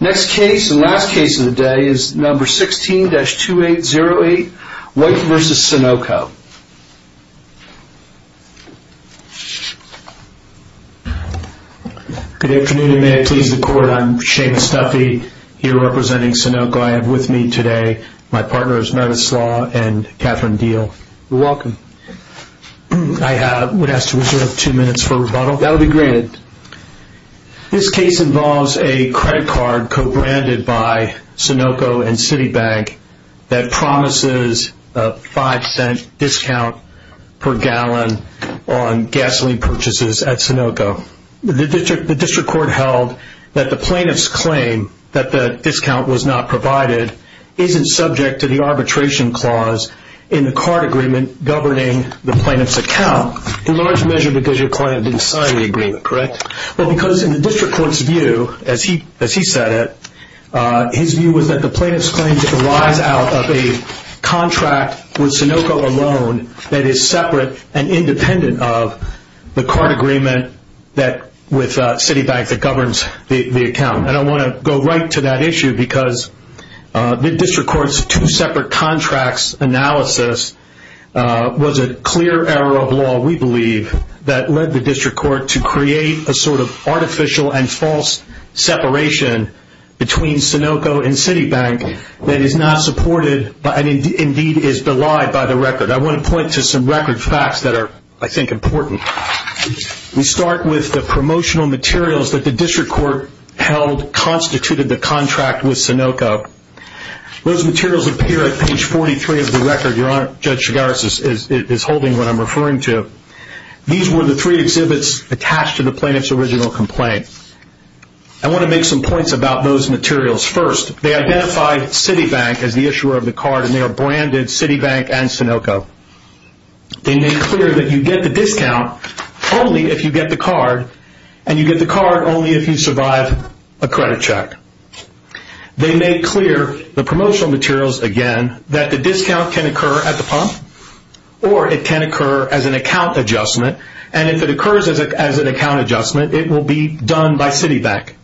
Next case and last case of the day is number 16-2808, White v. Sunoco. Good afternoon, may I please the court. I'm Shane Stuffy, here representing Sunoco. I have with me today my partners Meredith Slaw and Catherine Diehl. You're welcome. I would ask to reserve two minutes for rebuttal. That will be granted. This case involves a credit card co-branded by Sunoco and Citibank that promises a 5 cent discount per gallon on gasoline purchases at Sunoco. The district court held that the plaintiff's claim that the discount was not provided isn't subject to the arbitration clause in the card agreement governing the plaintiff's account in large measure because your client didn't sign the agreement, correct? Because in the district court's view, as he said it, his view was that the plaintiff's claim derives out of a contract with Sunoco alone that is separate and independent of the card agreement with Citibank that governs the account. I want to go right to that issue because the district court's two separate contracts analysis was a clear error of law, we believe, that led the district court to create a sort of artificial and false separation between Sunoco and Citibank that is not supported and indeed is belied by the record. I want to point to some record facts that are, I think, important. We start with the promotional materials that the district court held constituted the contract with Sunoco. Those materials appear at page 43 of the record your Honor, Judge Chigaris is holding what I'm referring to. These were the three exhibits attached to the plaintiff's original complaint. I want to make some points about those materials. First, they identified Citibank as the issuer of the card and they are branded Citibank and Sunoco. They made clear that you get the discount only if you get the card and you get the card only if you survive a credit check. They made clear, the promotional materials again, that the discount can occur at the pump or it can occur as an account adjustment and if it occurs as an account adjustment it will be done by Citibank.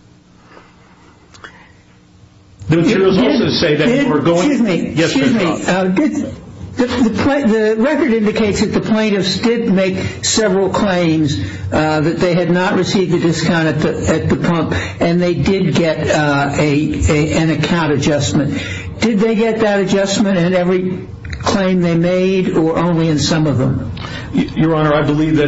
The materials also say that you are going to... Excuse me, the record indicates that the plaintiffs did make several claims that they had not received a discount at the pump and they did get an account adjustment. Did they get that adjustment in every claim they made or only in some of them? Your Honor, I believe that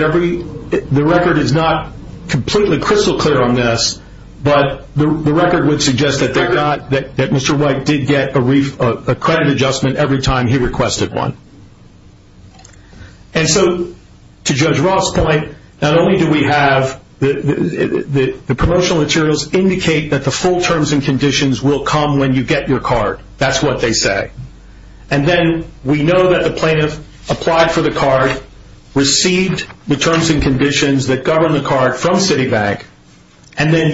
the record is not completely crystal clear on this but the record would suggest that Mr. White did get a credit adjustment every time he requested one. And so, to Judge Roth's point, not only do we have... The promotional materials indicate that the full terms and conditions will come when you get your card. That's what they say. And then we know that the plaintiff applied for the card, received the terms and conditions that govern the card from Citibank and then,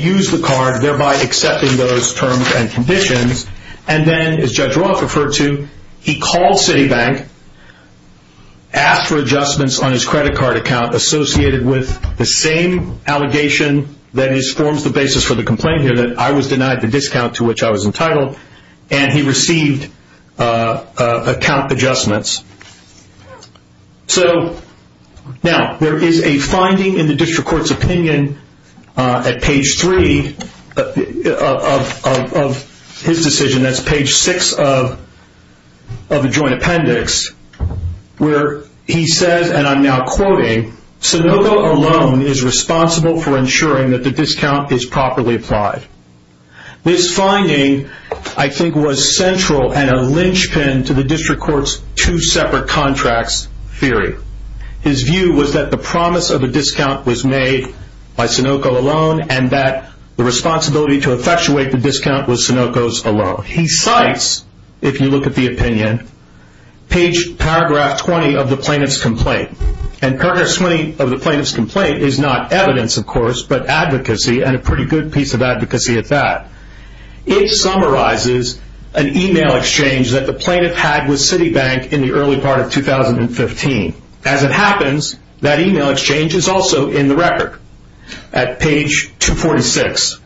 as Judge Roth referred to, he called Citibank, asked for adjustments on his credit card account associated with the same allegation that forms the basis for the complaint here that I was denied the discount to which I was entitled and he received account adjustments. So, now, there is a finding in the district court's opinion at page 3 of his decision, that's page 6 of the joint appendix, where he says, and I'm now quoting, Sonoco alone is responsible for ensuring that the discount is properly applied. This finding, I think, was central and a linchpin to the district court's two separate contracts theory. His view was that the promise of a discount was made by Sonoco alone and that the responsibility to effectuate the discount was Sonoco's alone. He cites, if you look at the opinion, page paragraph 20 of the plaintiff's complaint. And paragraph 20 of the plaintiff's complaint is not evidence, of course, but advocacy and a pretty good piece of advocacy at that. It summarizes an email exchange that the plaintiff had with Citibank in the early part of 2015. As it happens, that email exchange is also in the record at page 246.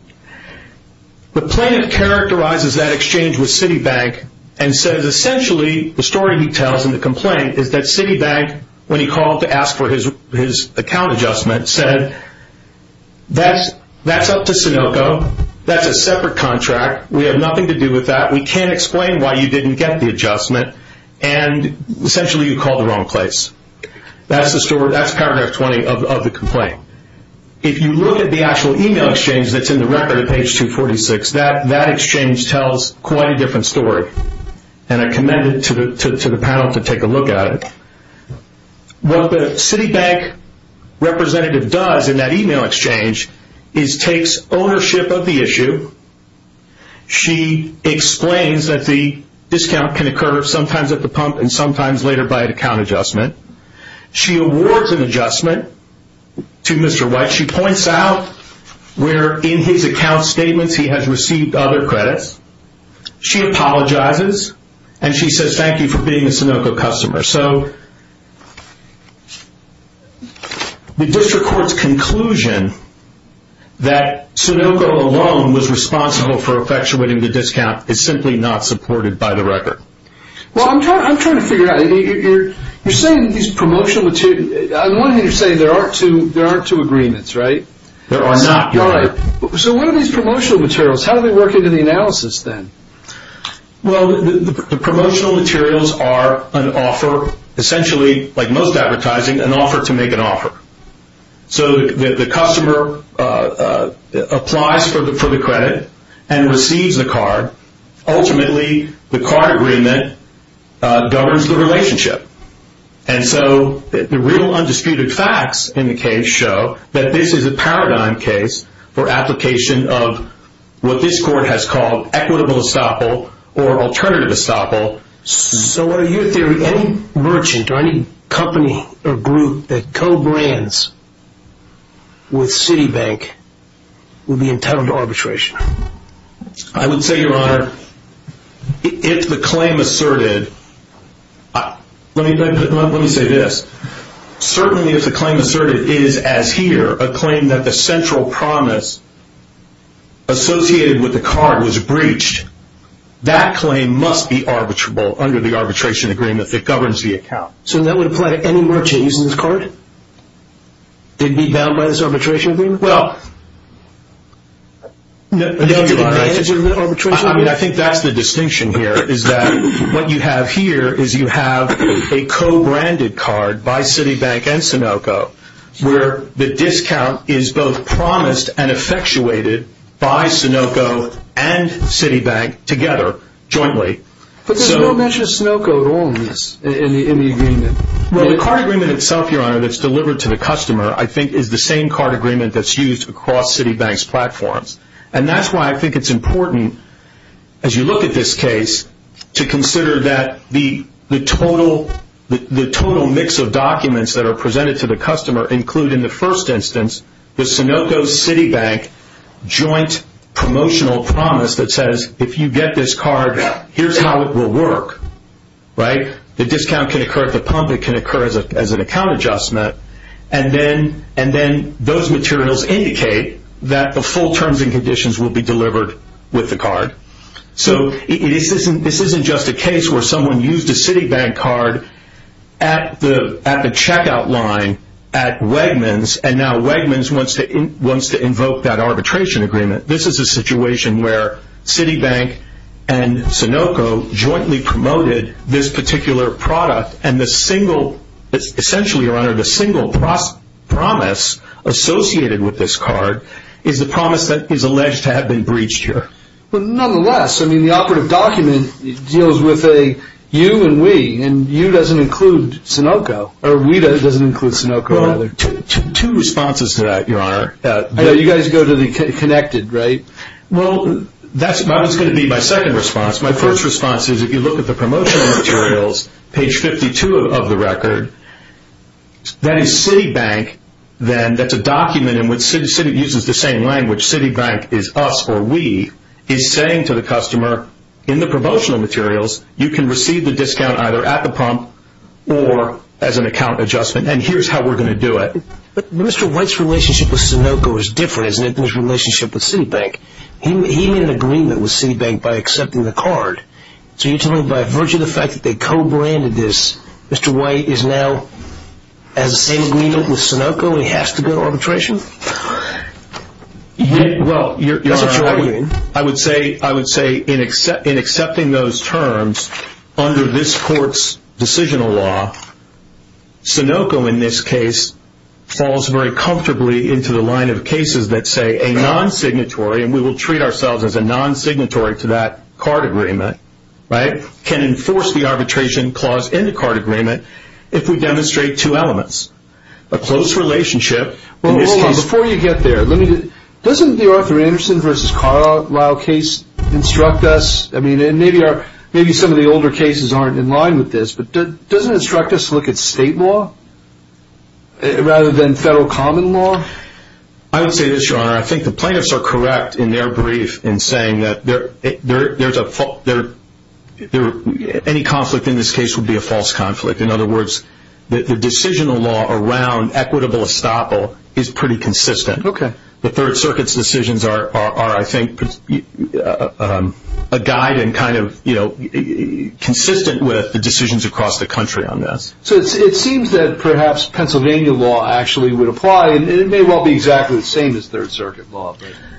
The plaintiff characterizes that exchange with Citibank and says, essentially, the story he tells in the complaint is that Citibank, when he called to ask for his account adjustment, said, that's up to Sonoco. That's a separate contract. We have nothing to do with that. We can't explain why you didn't get the adjustment. And, essentially, you called the wrong place. That's paragraph 20 of the complaint. If you look at the actual email exchange that's in the record at page 246, that exchange tells quite a different story. And I commend it to the panel to take a look at it. What the Citibank representative does in that email exchange is takes ownership of the issue. She explains that the discount can occur sometimes at the pump and sometimes later by an account adjustment. She awards an adjustment to Mr. White. She points out where in his account statements he has received other credits. She apologizes and she says, thank you for being a Sonoco customer. So, the district court's conclusion that Sonoco alone was responsible for effectuating the discount is simply not supported by the record. Well, I'm trying to figure out, you're saying these promotional materials, on one hand you're saying there aren't two agreements, right? There are not. So, what are these promotional materials? How do they work into the analysis, then? Well, the promotional materials are an offer, essentially, like most advertising, an offer to make an offer. So, the customer applies for the credit and receives the card. Ultimately, the card agreement governs the relationship. And so, the real undisputed facts in the case show that this is a paradigm case for application of what this court has called equitable estoppel or alternative estoppel. So, in your theory, any merchant or any company or group that co-brands with Citibank will be entitled to arbitration? I would say, Your Honor, if the claim asserted, let me say this, certainly if the claim asserted is, as here, a claim that the central promise associated with the card was breached, that claim must be arbitrable under the arbitration agreement that governs the account. So, that would apply to any merchant using this card? They'd be bound by this arbitration agreement? Well, no, Your Honor, I think that's the distinction here, is that what you have here is you have a co-branded card by Citibank and Sunoco, where the discount is both promised and effectuated by Sunoco and Citibank together, jointly. But there's no mention of Sunoco at all in this, in the agreement? Well, the card agreement itself, Your Honor, that's delivered to the customer, I think, is the same card agreement that's used across Citibank's platforms. And that's why I think it's important, as you look at this case, to consider that the total mix of documents that are presented to the customer include, in the first instance, the Sunoco-Citibank joint promotional promise that says, if you get this card, here's how it will work, right? The discount can occur at the pump, it can occur as an account adjustment, and then those materials indicate that the full terms and conditions will be delivered with the card. So, this isn't just a case where someone used a Citibank card at the checkout line at Wegmans, and now Wegmans wants to invoke that arbitration agreement. This is a situation where Citibank and Sunoco jointly promoted this particular product, and the single, essentially, Your Honor, the single promise associated with this card is the promise that is alleged to have been breached here. But nonetheless, I mean, the operative document deals with a you and we, and you doesn't include Sunoco, or we doesn't include Sunoco, rather. Well, two responses to that, Your Honor. You guys go to the connected, right? Well, that's what's going to be my second response. My first response is, if you look at the promotional materials, page 52 of the record, that is Citibank, then, that's a document in which Citibank uses the same language. Citibank is us, or we, is saying to the customer, in the promotional materials, you can receive the discount either at the pump or as an account adjustment, and here's how we're going to do it. But Mr. White's relationship with Sunoco is different than his relationship with Citibank. He made an agreement with Citibank by accepting the card. So you're telling me, by virtue of the fact that they co-branded this, Mr. White is now, has the same agreement with Sunoco, and he has to go to arbitration? Well, Your Honor, I would say, in accepting those terms, under this court's decisional law, Sunoco, in this case, falls very comfortably into the line of cases that say a non-signatory, and we will treat ourselves as a non-signatory to that card agreement, right, can enforce the arbitration clause in the card agreement if we demonstrate two elements, a close relationship. Well, hold on. Before you get there, doesn't the Arthur Anderson v. Carlisle case instruct us, and maybe some of the older cases aren't in line with this, but doesn't it instruct us to look at state law rather than federal common law? I would say this, Your Honor. I think the plaintiffs are correct in their brief in saying that any conflict in this case would be a false conflict. In other words, the decisional law around equitable estoppel is pretty consistent. Okay. The Third Circuit's decisions are, I think, a guide and kind of consistent with the decisions across the country on this. So it seems that perhaps Pennsylvania law actually would apply, and it may well be exactly the same as Third Circuit law.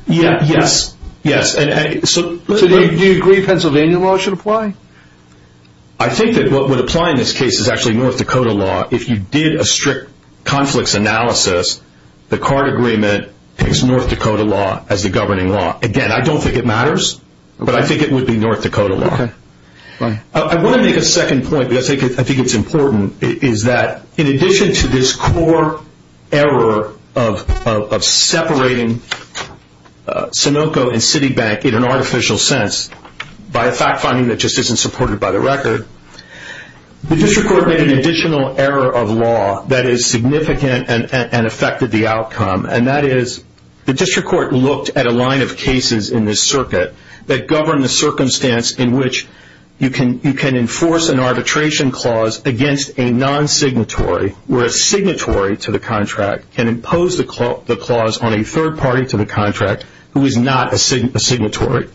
Yes, yes. So do you agree Pennsylvania law should apply? I think that what would apply in this case is actually North Dakota law. If you did a strict conflicts analysis, the card agreement takes North Dakota law as the governing law. Again, I don't think it matters, but I think it would be North Dakota law. Okay. Fine. I want to make a second point, because I think it's important, is that in addition to this core error of separating Sunoco and Citibank in an artificial sense by a fact finding that just isn't supported by the record, the district court made an additional error of law that is significant and affected the outcome, and that is the district court looked at a line of cases in this circuit that govern the circumstance in which you can enforce an arbitration clause against a non-signatory where a signatory to the contract can impose the clause on a third party to the contract who is not a signatory.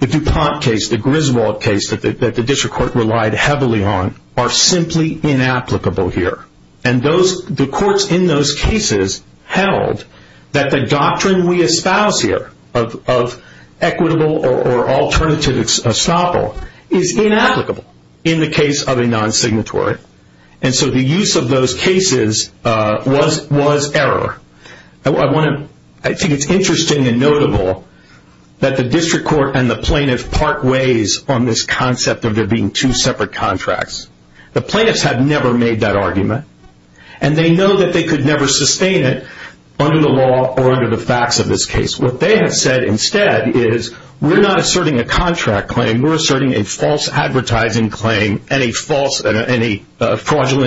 The DuPont case, the Griswold case that the district court relied heavily on are simply inapplicable here. And the courts in those cases held that the doctrine we espouse here of equitable or alternative estoppel is inapplicable in the case of a non-signatory. And so the use of those cases was error. I think it's interesting and notable that the district court and the plaintiff part ways on this concept of there being two separate contracts. The plaintiffs have never made that argument, and they know that they could never sustain it under the law or under the facts of this case. What they have said instead is, we're not asserting a contract claim. We're asserting a false advertising claim and a fraudulent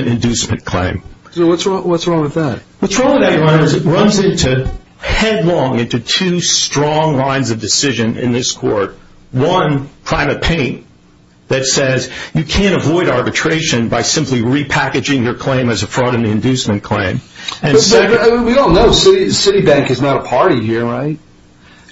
inducement claim. So what's wrong with that? What's wrong with that, Ryan, is it runs headlong into two strong lines of decision in this court. One, private pain that says you can't avoid arbitration by simply repackaging your claim as a fraud and inducement claim. We all know Citibank is not a party here, right?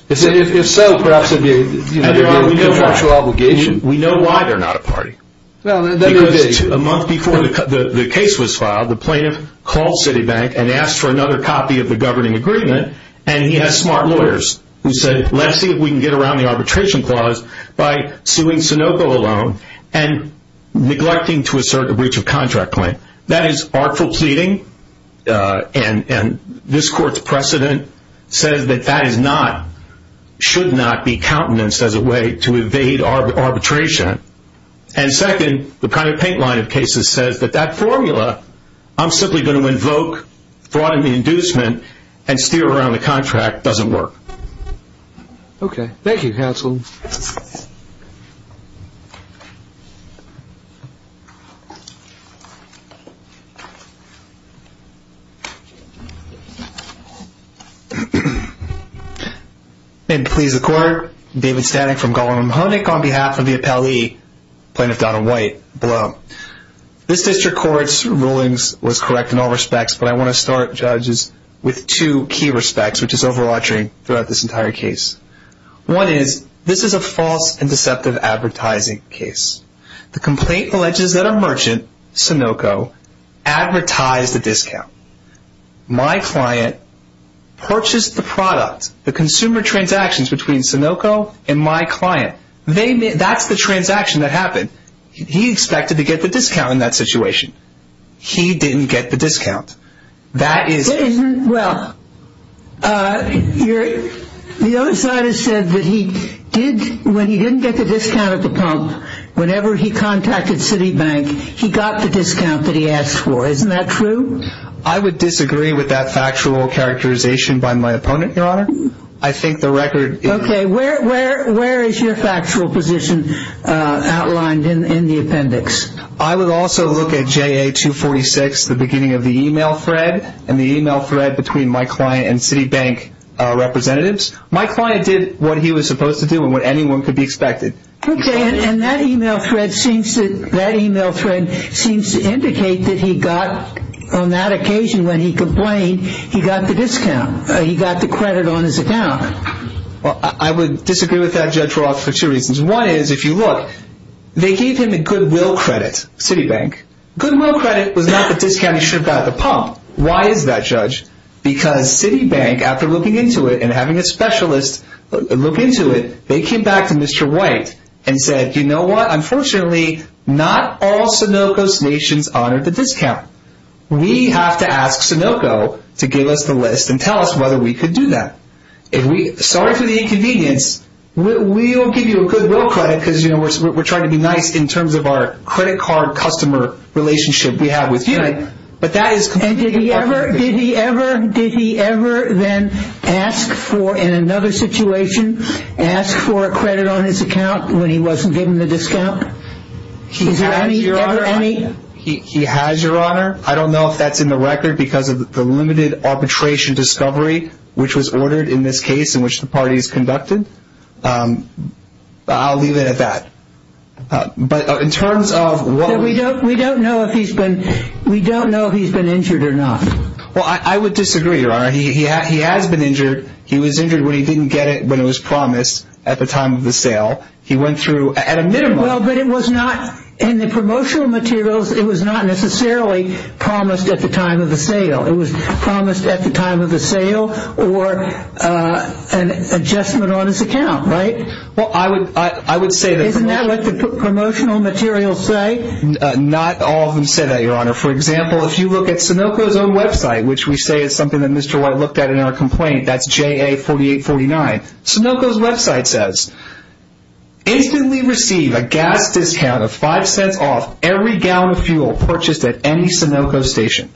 If so, perhaps there'd be a contractual obligation. We know why they're not a party. Because a month before the case was filed, the plaintiff called Citibank and asked for another copy of the governing agreement, and he has smart lawyers who said, let's see if we can get around the arbitration clause by suing Sunoco alone and neglecting to assert a breach of contract claim. That is artful pleading, and this court's precedent says that that should not be countenanced as a way to evade arbitration. And second, the private paint line of cases says that that formula, I'm simply going to invoke fraud and inducement and steer around the contract doesn't work. May it please the court. David Stanek from Government of Munich on behalf of the appellee, Plaintiff Donald White, below. This district court's rulings was correct in all respects, but I want to start, judges, with two key respects, which is overarching throughout this entire case. One is, this is a false and deceptive advertising case. The complaint alleges that a merchant, Sunoco, advertised a discount. My client purchased the product, the consumer transactions between Sunoco and my client. That's the transaction that happened. He expected to get the discount in that situation. He didn't get the discount. Well, the other side has said that when he didn't get the discount at the pump, whenever he contacted Citibank, he got the discount that he asked for. Isn't that true? I would disagree with that factual characterization by my opponent, Your Honor. I think the record... Okay, where is your factual position outlined in the appendix? I would also look at JA246, the beginning of the e-mail thread, and the e-mail thread between my client and Citibank representatives. My client did what he was supposed to do and what anyone could be expected. Okay, and that e-mail thread seems to indicate that he got, on that occasion when he complained, he got the discount. He got the credit on his account. Well, I would disagree with that, Judge Roth, for two reasons. One is, if you look, they gave him the goodwill credit, Citibank. Goodwill credit was not the discount he should have got at the pump. Why is that, Judge? Because Citibank, after looking into it and having a specialist look into it, they came back to Mr. White and said, you know what? Unfortunately, not all Sunoco's nations honored the discount. We have to ask Sunoco to give us the list and tell us whether we could do that. Sorry for the inconvenience. We will give you a goodwill credit because, you know, we're trying to be nice in terms of our credit card customer relationship we have with you. And did he ever then ask for, in another situation, ask for a credit on his account when he wasn't given the discount? He has, Your Honor. I don't know if that's in the record because of the limited arbitration discovery which was ordered in this case in which the party is conducted. I'll leave it at that. But in terms of what we don't know if he's been injured or not. Well, I would disagree, Your Honor. He has been injured. He was injured when he didn't get it when it was promised at the time of the sale. He went through at a minimum. Well, but it was not in the promotional materials. It was not necessarily promised at the time of the sale. It was promised at the time of the sale or an adjustment on his account, right? Well, I would say that. Isn't that what the promotional materials say? Not all of them say that, Your Honor. For example, if you look at Sunoco's own website, which we say is something that Mr. White looked at in our complaint, that's JA4849. Sunoco's website says, instantly receive a gas discount of five cents off every gallon of fuel purchased at any Sunoco station.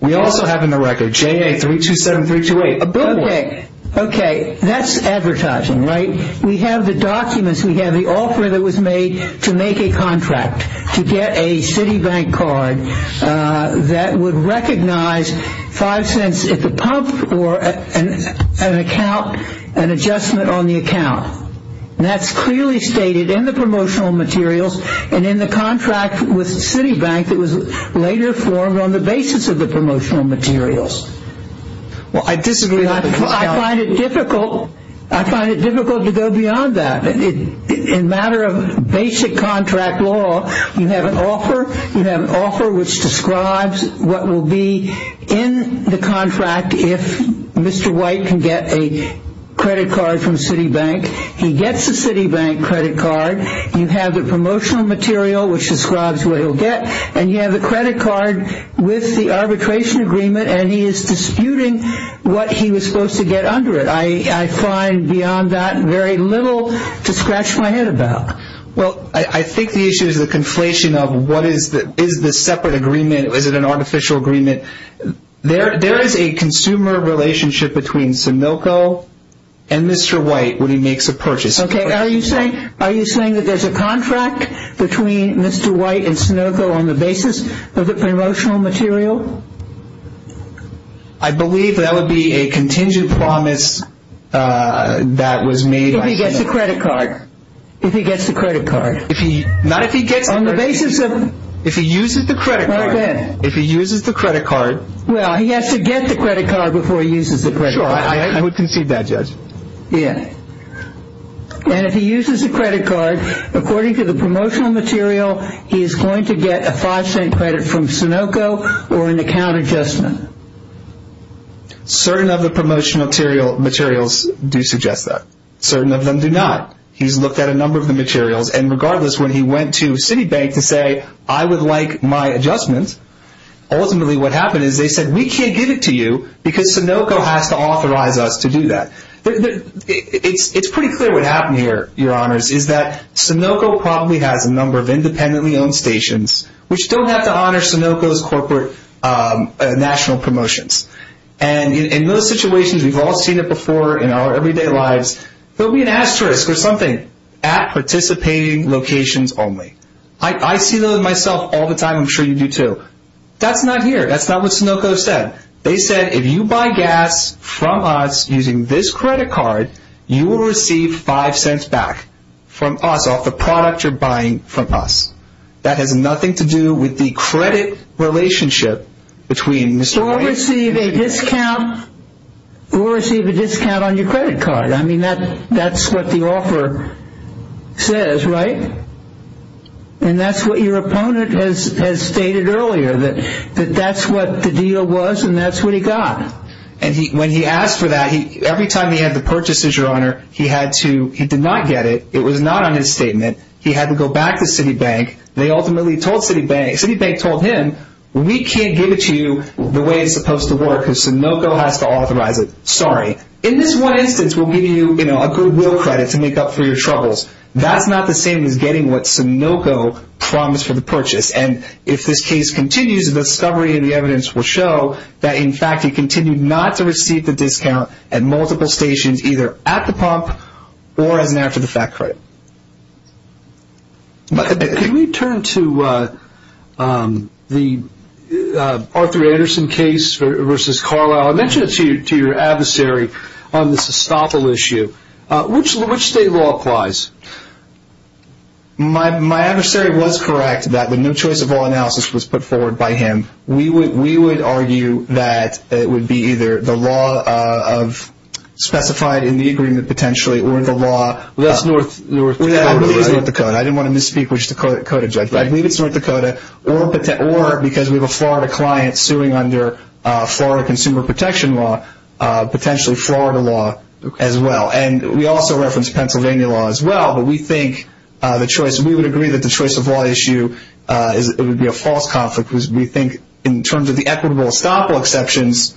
We also have in the record JA327328, a billboard. Okay, that's advertising, right? We have the documents. We have the offer that was made to make a contract to get a Citibank card that would recognize five cents at the pump or an adjustment on the account. That's clearly stated in the promotional materials and in the contract with Citibank that was later formed on the basis of the promotional materials. Well, I disagree with the discount. I find it difficult to go beyond that. In a matter of basic contract law, you have an offer. You have an offer which describes what will be in the contract if Mr. White can get a credit card from Citibank. He gets a Citibank credit card. You have the promotional material which describes what he'll get, and you have the credit card with the arbitration agreement, and he is disputing what he was supposed to get under it. I find beyond that very little to scratch my head about. Well, I think the issue is the conflation of what is the separate agreement. Is it an artificial agreement? There is a consumer relationship between Sunoco and Mr. White when he makes a purchase. Okay. Are you saying that there's a contract between Mr. White and Sunoco on the basis of the promotional material? I believe that would be a contingent promise that was made by Sunoco. If he gets the credit card. If he gets the credit card. Not if he gets the credit card. On the basis of... If he uses the credit card. All right, go ahead. If he uses the credit card. Well, he has to get the credit card before he uses the credit card. Sure. I would concede that, Judge. Yeah. And if he uses the credit card, according to the promotional material, he is going to get a five-cent credit from Sunoco or an account adjustment. Certain of the promotional materials do suggest that. Certain of them do not. He's looked at a number of the materials, and regardless when he went to Citibank to say, I would like my adjustment, ultimately what happened is they said, we can't give it to you because Sunoco has to authorize us to do that. It's pretty clear what happened here, Your Honors, is that Sunoco probably has a number of independently owned stations, which don't have to honor Sunoco's corporate national promotions. And in those situations, we've all seen it before in our everyday lives, there will be an asterisk or something, at participating locations only. I see those myself all the time. I'm sure you do too. That's not here. That's not what Sunoco said. They said, if you buy gas from us using this credit card, you will receive five cents back from us off the product you're buying from us. That has nothing to do with the credit relationship between Mr. Branson. Or receive a discount on your credit card. I mean, that's what the offer says, right? And that's what your opponent has stated earlier, that that's what the deal was and that's what he got. And when he asked for that, every time he had the purchase, Your Honor, he did not get it. It was not on his statement. He had to go back to Citibank. Citibank told him, we can't give it to you the way it's supposed to work because Sunoco has to authorize it. Sorry. In this one instance, we'll give you a good will credit to make up for your troubles. That's not the same as getting what Sunoco promised for the purchase. And if this case continues, the discovery and the evidence will show that, in fact, he continued not to receive the discount at multiple stations, either at the pump or as an after-the-fact credit. Can we turn to the Arthur Anderson case versus Carlisle? I mentioned it to your adversary on this Estoppel issue. Which state law applies? My adversary was correct that the no-choice-of-all analysis was put forward by him. We would argue that it would be either the law specified in the agreement, potentially, or the law. That's North Dakota, right? I believe it's North Dakota. I didn't want to misspeak which Dakota judge. I believe it's North Dakota, or because we have a Florida client suing under Florida consumer protection law, potentially Florida law as well. And we also reference Pennsylvania law as well. But we think the choice, we would agree that the choice-of-law issue would be a false conflict. We think in terms of the equitable Estoppel exceptions,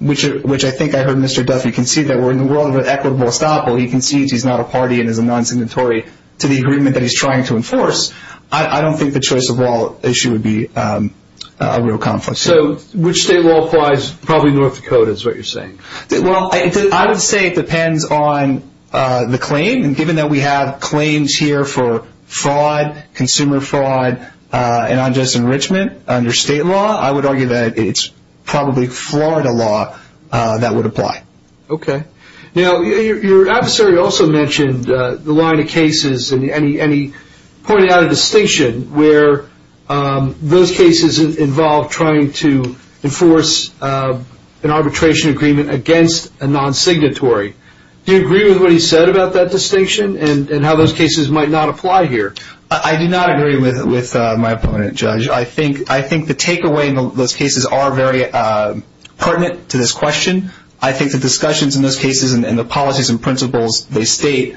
which I think I heard Mr. Duffy concede that we're in the world of an equitable Estoppel. He concedes he's not a party and is a non-signatory to the agreement that he's trying to enforce. I don't think the choice-of-law issue would be a real conflict. So which state law applies? Probably North Dakota is what you're saying. Well, I would say it depends on the claim. And given that we have claims here for fraud, consumer fraud, and unjust enrichment under state law, I would argue that it's probably Florida law that would apply. Okay. Now, your adversary also mentioned the line of cases, and he pointed out a distinction where those cases involve trying to enforce an arbitration agreement against a non-signatory. Do you agree with what he said about that distinction and how those cases might not apply here? I do not agree with my opponent, Judge. I think the takeaway in those cases are very pertinent to this question. I think the discussions in those cases and the policies and principles they state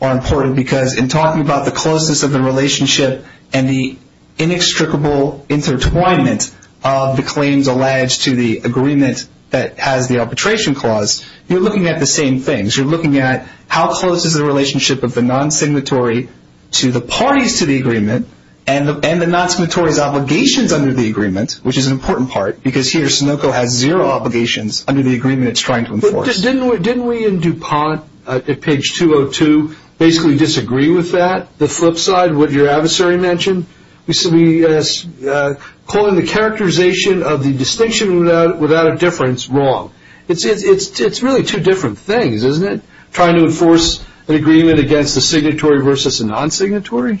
are important because in talking about the closeness of the relationship and the inextricable intertwinement of the claims alleged to the agreement that has the arbitration clause, you're looking at the same things. You're looking at how close is the relationship of the non-signatory to the parties to the agreement and the non-signatory's obligations under the agreement, which is an important part, because here Sunoco has zero obligations under the agreement it's trying to enforce. Didn't we in DuPont at page 202 basically disagree with that? The flip side, what your adversary mentioned, calling the characterization of the distinction without a difference wrong. It's really two different things, isn't it, trying to enforce an agreement against a signatory versus a non-signatory?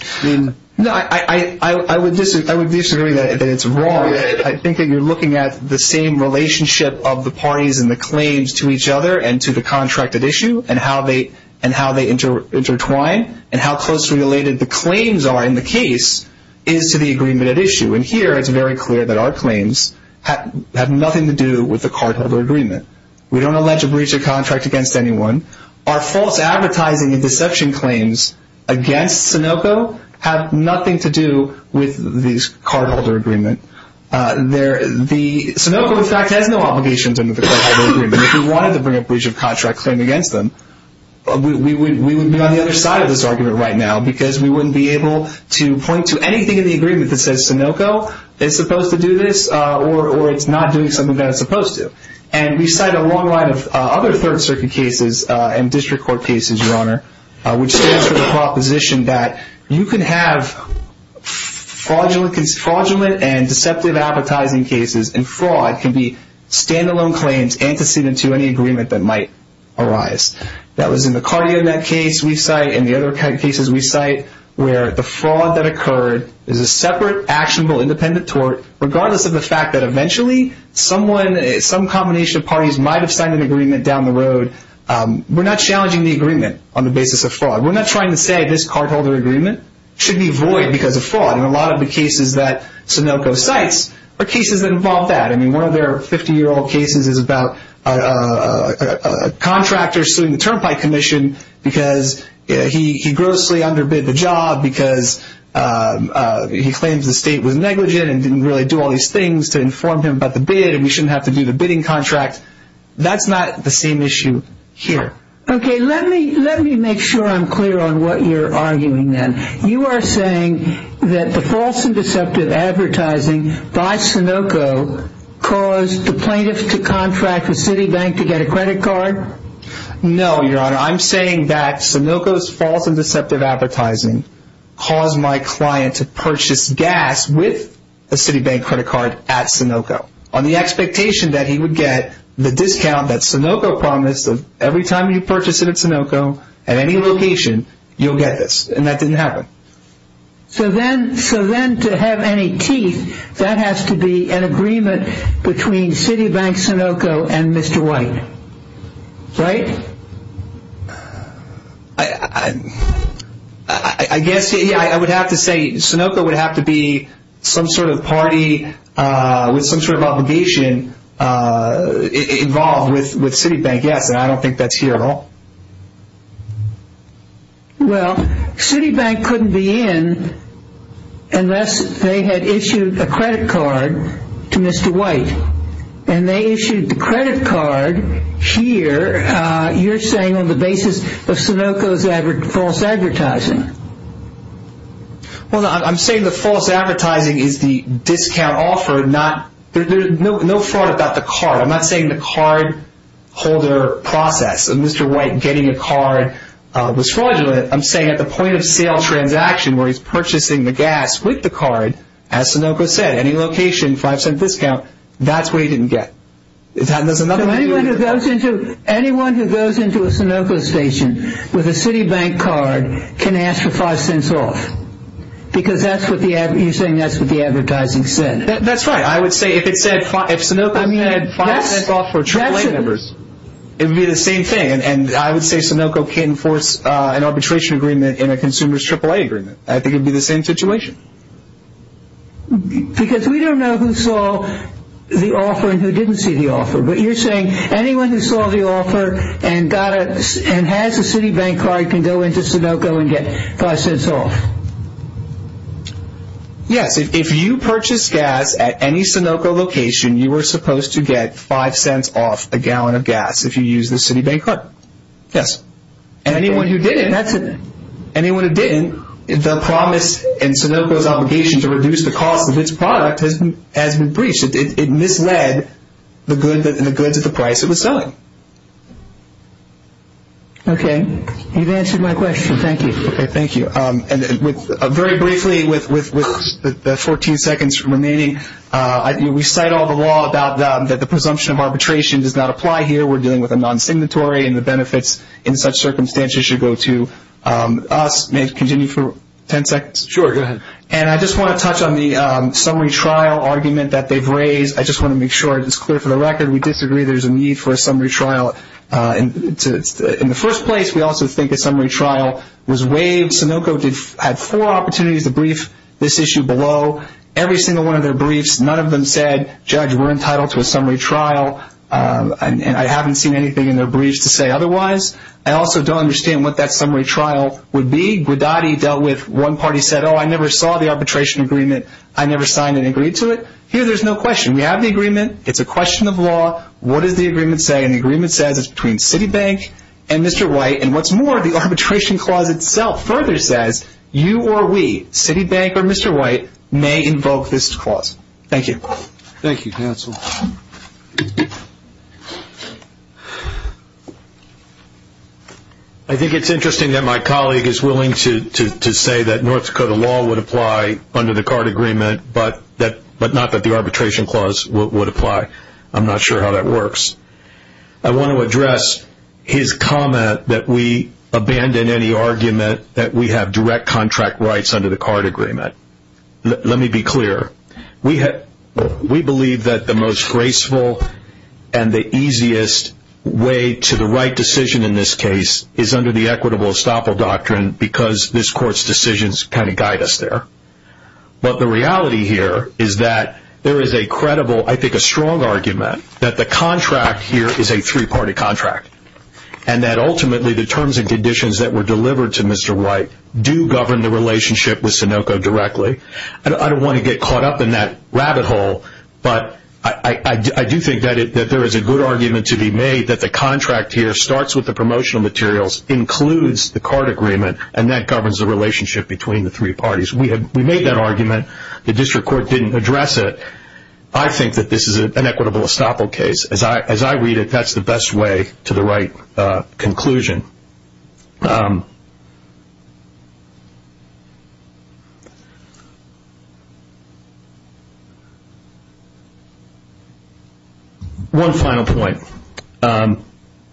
I would disagree that it's wrong. I think that you're looking at the same relationship of the parties and the claims to each other and to the contract at issue and how they intertwine and how closely related the claims are in the case is to the agreement at issue. Here it's very clear that our claims have nothing to do with the cardholder agreement. We don't allege a breach of contract against anyone. Our false advertising and deception claims against Sunoco have nothing to do with the cardholder agreement. Sunoco, in fact, has no obligations under the cardholder agreement. If we wanted to bring a breach of contract claim against them, we would be on the other side of this argument right now because we wouldn't be able to point to anything in the agreement that says Sunoco is supposed to do this or it's not doing something that it's supposed to. And we cite a long line of other Third Circuit cases and district court cases, Your Honor, which stands for the proposition that you can have fraudulent and deceptive advertising cases and fraud can be standalone claims antecedent to any agreement that might arise. That was in the CardioNet case we cite and the other cases we cite where the fraud that occurred is a separate, actionable, independent tort regardless of the fact that eventually some combination of parties might have signed an agreement down the road. We're not challenging the agreement on the basis of fraud. We're not trying to say this cardholder agreement should be void because of fraud. And a lot of the cases that Sunoco cites are cases that involve that. I mean, one of their 50-year-old cases is about a contractor suing the Turnpike Commission because he grossly underbid the job because he claims the state was negligent and didn't really do all these things to inform him about the bid and we shouldn't have to do the bidding contract. That's not the same issue here. Okay, let me make sure I'm clear on what you're arguing then. You are saying that the false and deceptive advertising by Sunoco caused the plaintiff to contract with Citibank to get a credit card? No, Your Honor, I'm saying that Sunoco's false and deceptive advertising caused my client to purchase gas with a Citibank credit card at Sunoco on the expectation that he would get the discount that Sunoco promised and every time you purchase it at Sunoco, at any location, you'll get this. And that didn't happen. So then to have any teeth, that has to be an agreement between Citibank, Sunoco, and Mr. White, right? I guess I would have to say Sunoco would have to be some sort of party with some sort of obligation involved with Citibank, yes, and I don't think that's here at all. Well, Citibank couldn't be in unless they had issued a credit card to Mr. White and they issued the credit card here, you're saying, on the basis of Sunoco's false advertising. Well, I'm saying the false advertising is the discount offer, there's no fraud about the card, I'm not saying the cardholder process of Mr. White getting a card was fraudulent, I'm saying at the point of sale transaction where he's purchasing the gas with the card, as Sunoco said, any location, 5 cent discount, that's what he didn't get. So anyone who goes into a Sunoco station with a Citibank card can ask for 5 cents off, because you're saying that's what the advertising said. That's right, I would say if Sunoco said 5 cents off for AAA members, it would be the same thing, and I would say Sunoco can't enforce an arbitration agreement in a consumer's AAA agreement, I think it would be the same situation. Because we don't know who saw the offer and who didn't see the offer, but you're saying anyone who saw the offer and has a Citibank card can go into Sunoco and get 5 cents off. Yes, if you purchase gas at any Sunoco location, you are supposed to get 5 cents off a gallon of gas if you use the Citibank card, yes. Anyone who didn't, the promise in Sunoco's obligation to reduce the cost of its product has been breached. It misled the goods at the price it was selling. Okay, you've answered my question, thank you. Okay, thank you. Very briefly, with the 14 seconds remaining, we cite all the law that the presumption of arbitration does not apply here, we're dealing with a non-signatory, and the benefits in such circumstances should go to us. May I continue for 10 seconds? Sure, go ahead. And I just want to touch on the summary trial argument that they've raised. I just want to make sure it's clear for the record, we disagree there's a need for a summary trial. In the first place, we also think a summary trial was waived. Sunoco had four opportunities to brief this issue below. Every single one of their briefs, none of them said, judge, we're entitled to a summary trial, and I haven't seen anything in their briefs to say otherwise. I also don't understand what that summary trial would be. Guidotti dealt with one party said, oh, I never saw the arbitration agreement. I never signed and agreed to it. Here there's no question. We have the agreement. It's a question of law. What does the agreement say? And the agreement says it's between Citibank and Mr. White. And what's more, the arbitration clause itself further says you or we, Citibank or Mr. White, may invoke this clause. Thank you. Thank you, counsel. I think it's interesting that my colleague is willing to say that North Dakota law would apply under the card agreement, but not that the arbitration clause would apply. I'm not sure how that works. I want to address his comment that we abandon any argument that we have direct contract rights under the card agreement. Let me be clear. We believe that the most graceful and the easiest way to the right decision in this case is under the equitable estoppel doctrine because this court's decisions kind of guide us there. But the reality here is that there is a credible, I think a strong argument, that the contract here is a three-party contract and that ultimately the terms and conditions that were delivered to Mr. White do govern the relationship with Sunoco directly. I don't want to get caught up in that rabbit hole, but I do think that there is a good argument to be made that the contract here starts with the promotional materials, includes the card agreement, and that governs the relationship between the three parties. We made that argument. The district court didn't address it. I think that this is an equitable estoppel case. As I read it, that's the best way to the right conclusion. One final point.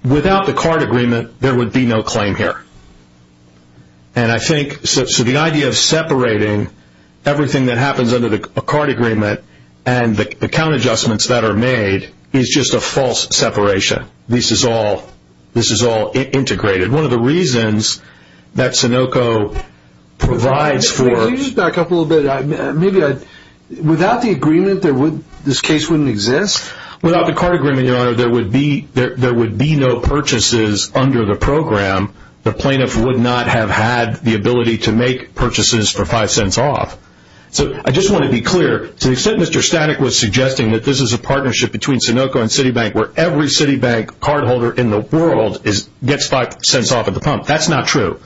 Without the card agreement, there would be no claim here. So the idea of separating everything that happens under the card agreement and the count adjustments that are made is just a false separation. This is all integrated. One of the reasons that Sunoco provides for... Can you just back up a little bit? Without the agreement, this case wouldn't exist? Without the card agreement, there would be no purchases under the program. The plaintiff would not have had the ability to make purchases for five cents off. I just want to be clear. Mr. Statik was suggesting that this is a partnership between Sunoco and Citibank, where every Citibank cardholder in the world gets five cents off of the pump. That's not true.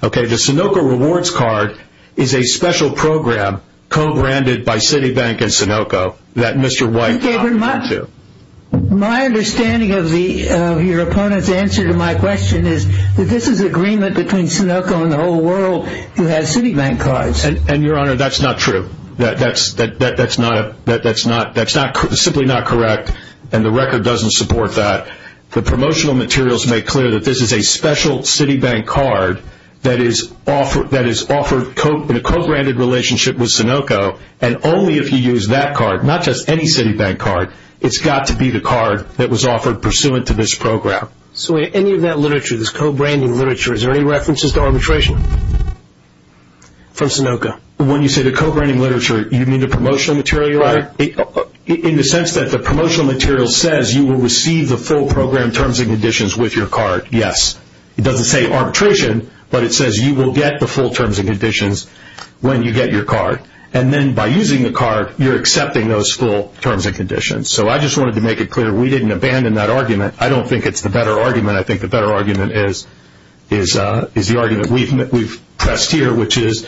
The Sunoco rewards card is a special program co-branded by Citibank and Sunoco that Mr. White... My understanding of your opponent's answer to my question is that this is agreement between Sunoco and the whole world who has Citibank cards. Your Honor, that's not true. That's simply not correct, and the record doesn't support that. The promotional materials make clear that this is a special Citibank card that is offered in a co-branded relationship with Sunoco, and only if you use that card, not just any Citibank card. It's got to be the card that was offered pursuant to this program. So any of that literature, this co-branding literature, is there any references to arbitration from Sunoco? When you say the co-branding literature, you mean the promotional material? Right. In the sense that the promotional material says you will receive the full program terms and conditions with your card, yes. It doesn't say arbitration, but it says you will get the full terms and conditions when you get your card, and then by using the card, you're accepting those full terms and conditions. So I just wanted to make it clear we didn't abandon that argument. I don't think it's the better argument. I think the better argument is the argument we've pressed here, which is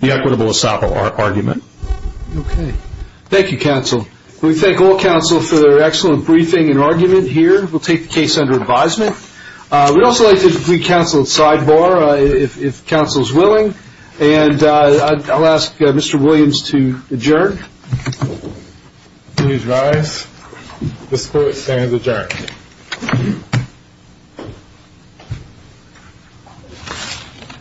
the equitable asset argument. Okay. Thank you, counsel. We thank all counsel for their excellent briefing and argument here. We'll take the case under advisement. We'd also like to conclude counsel at sidebar, if counsel is willing, and I'll ask Mr. Williams to adjourn. Please rise. The court stands adjourned.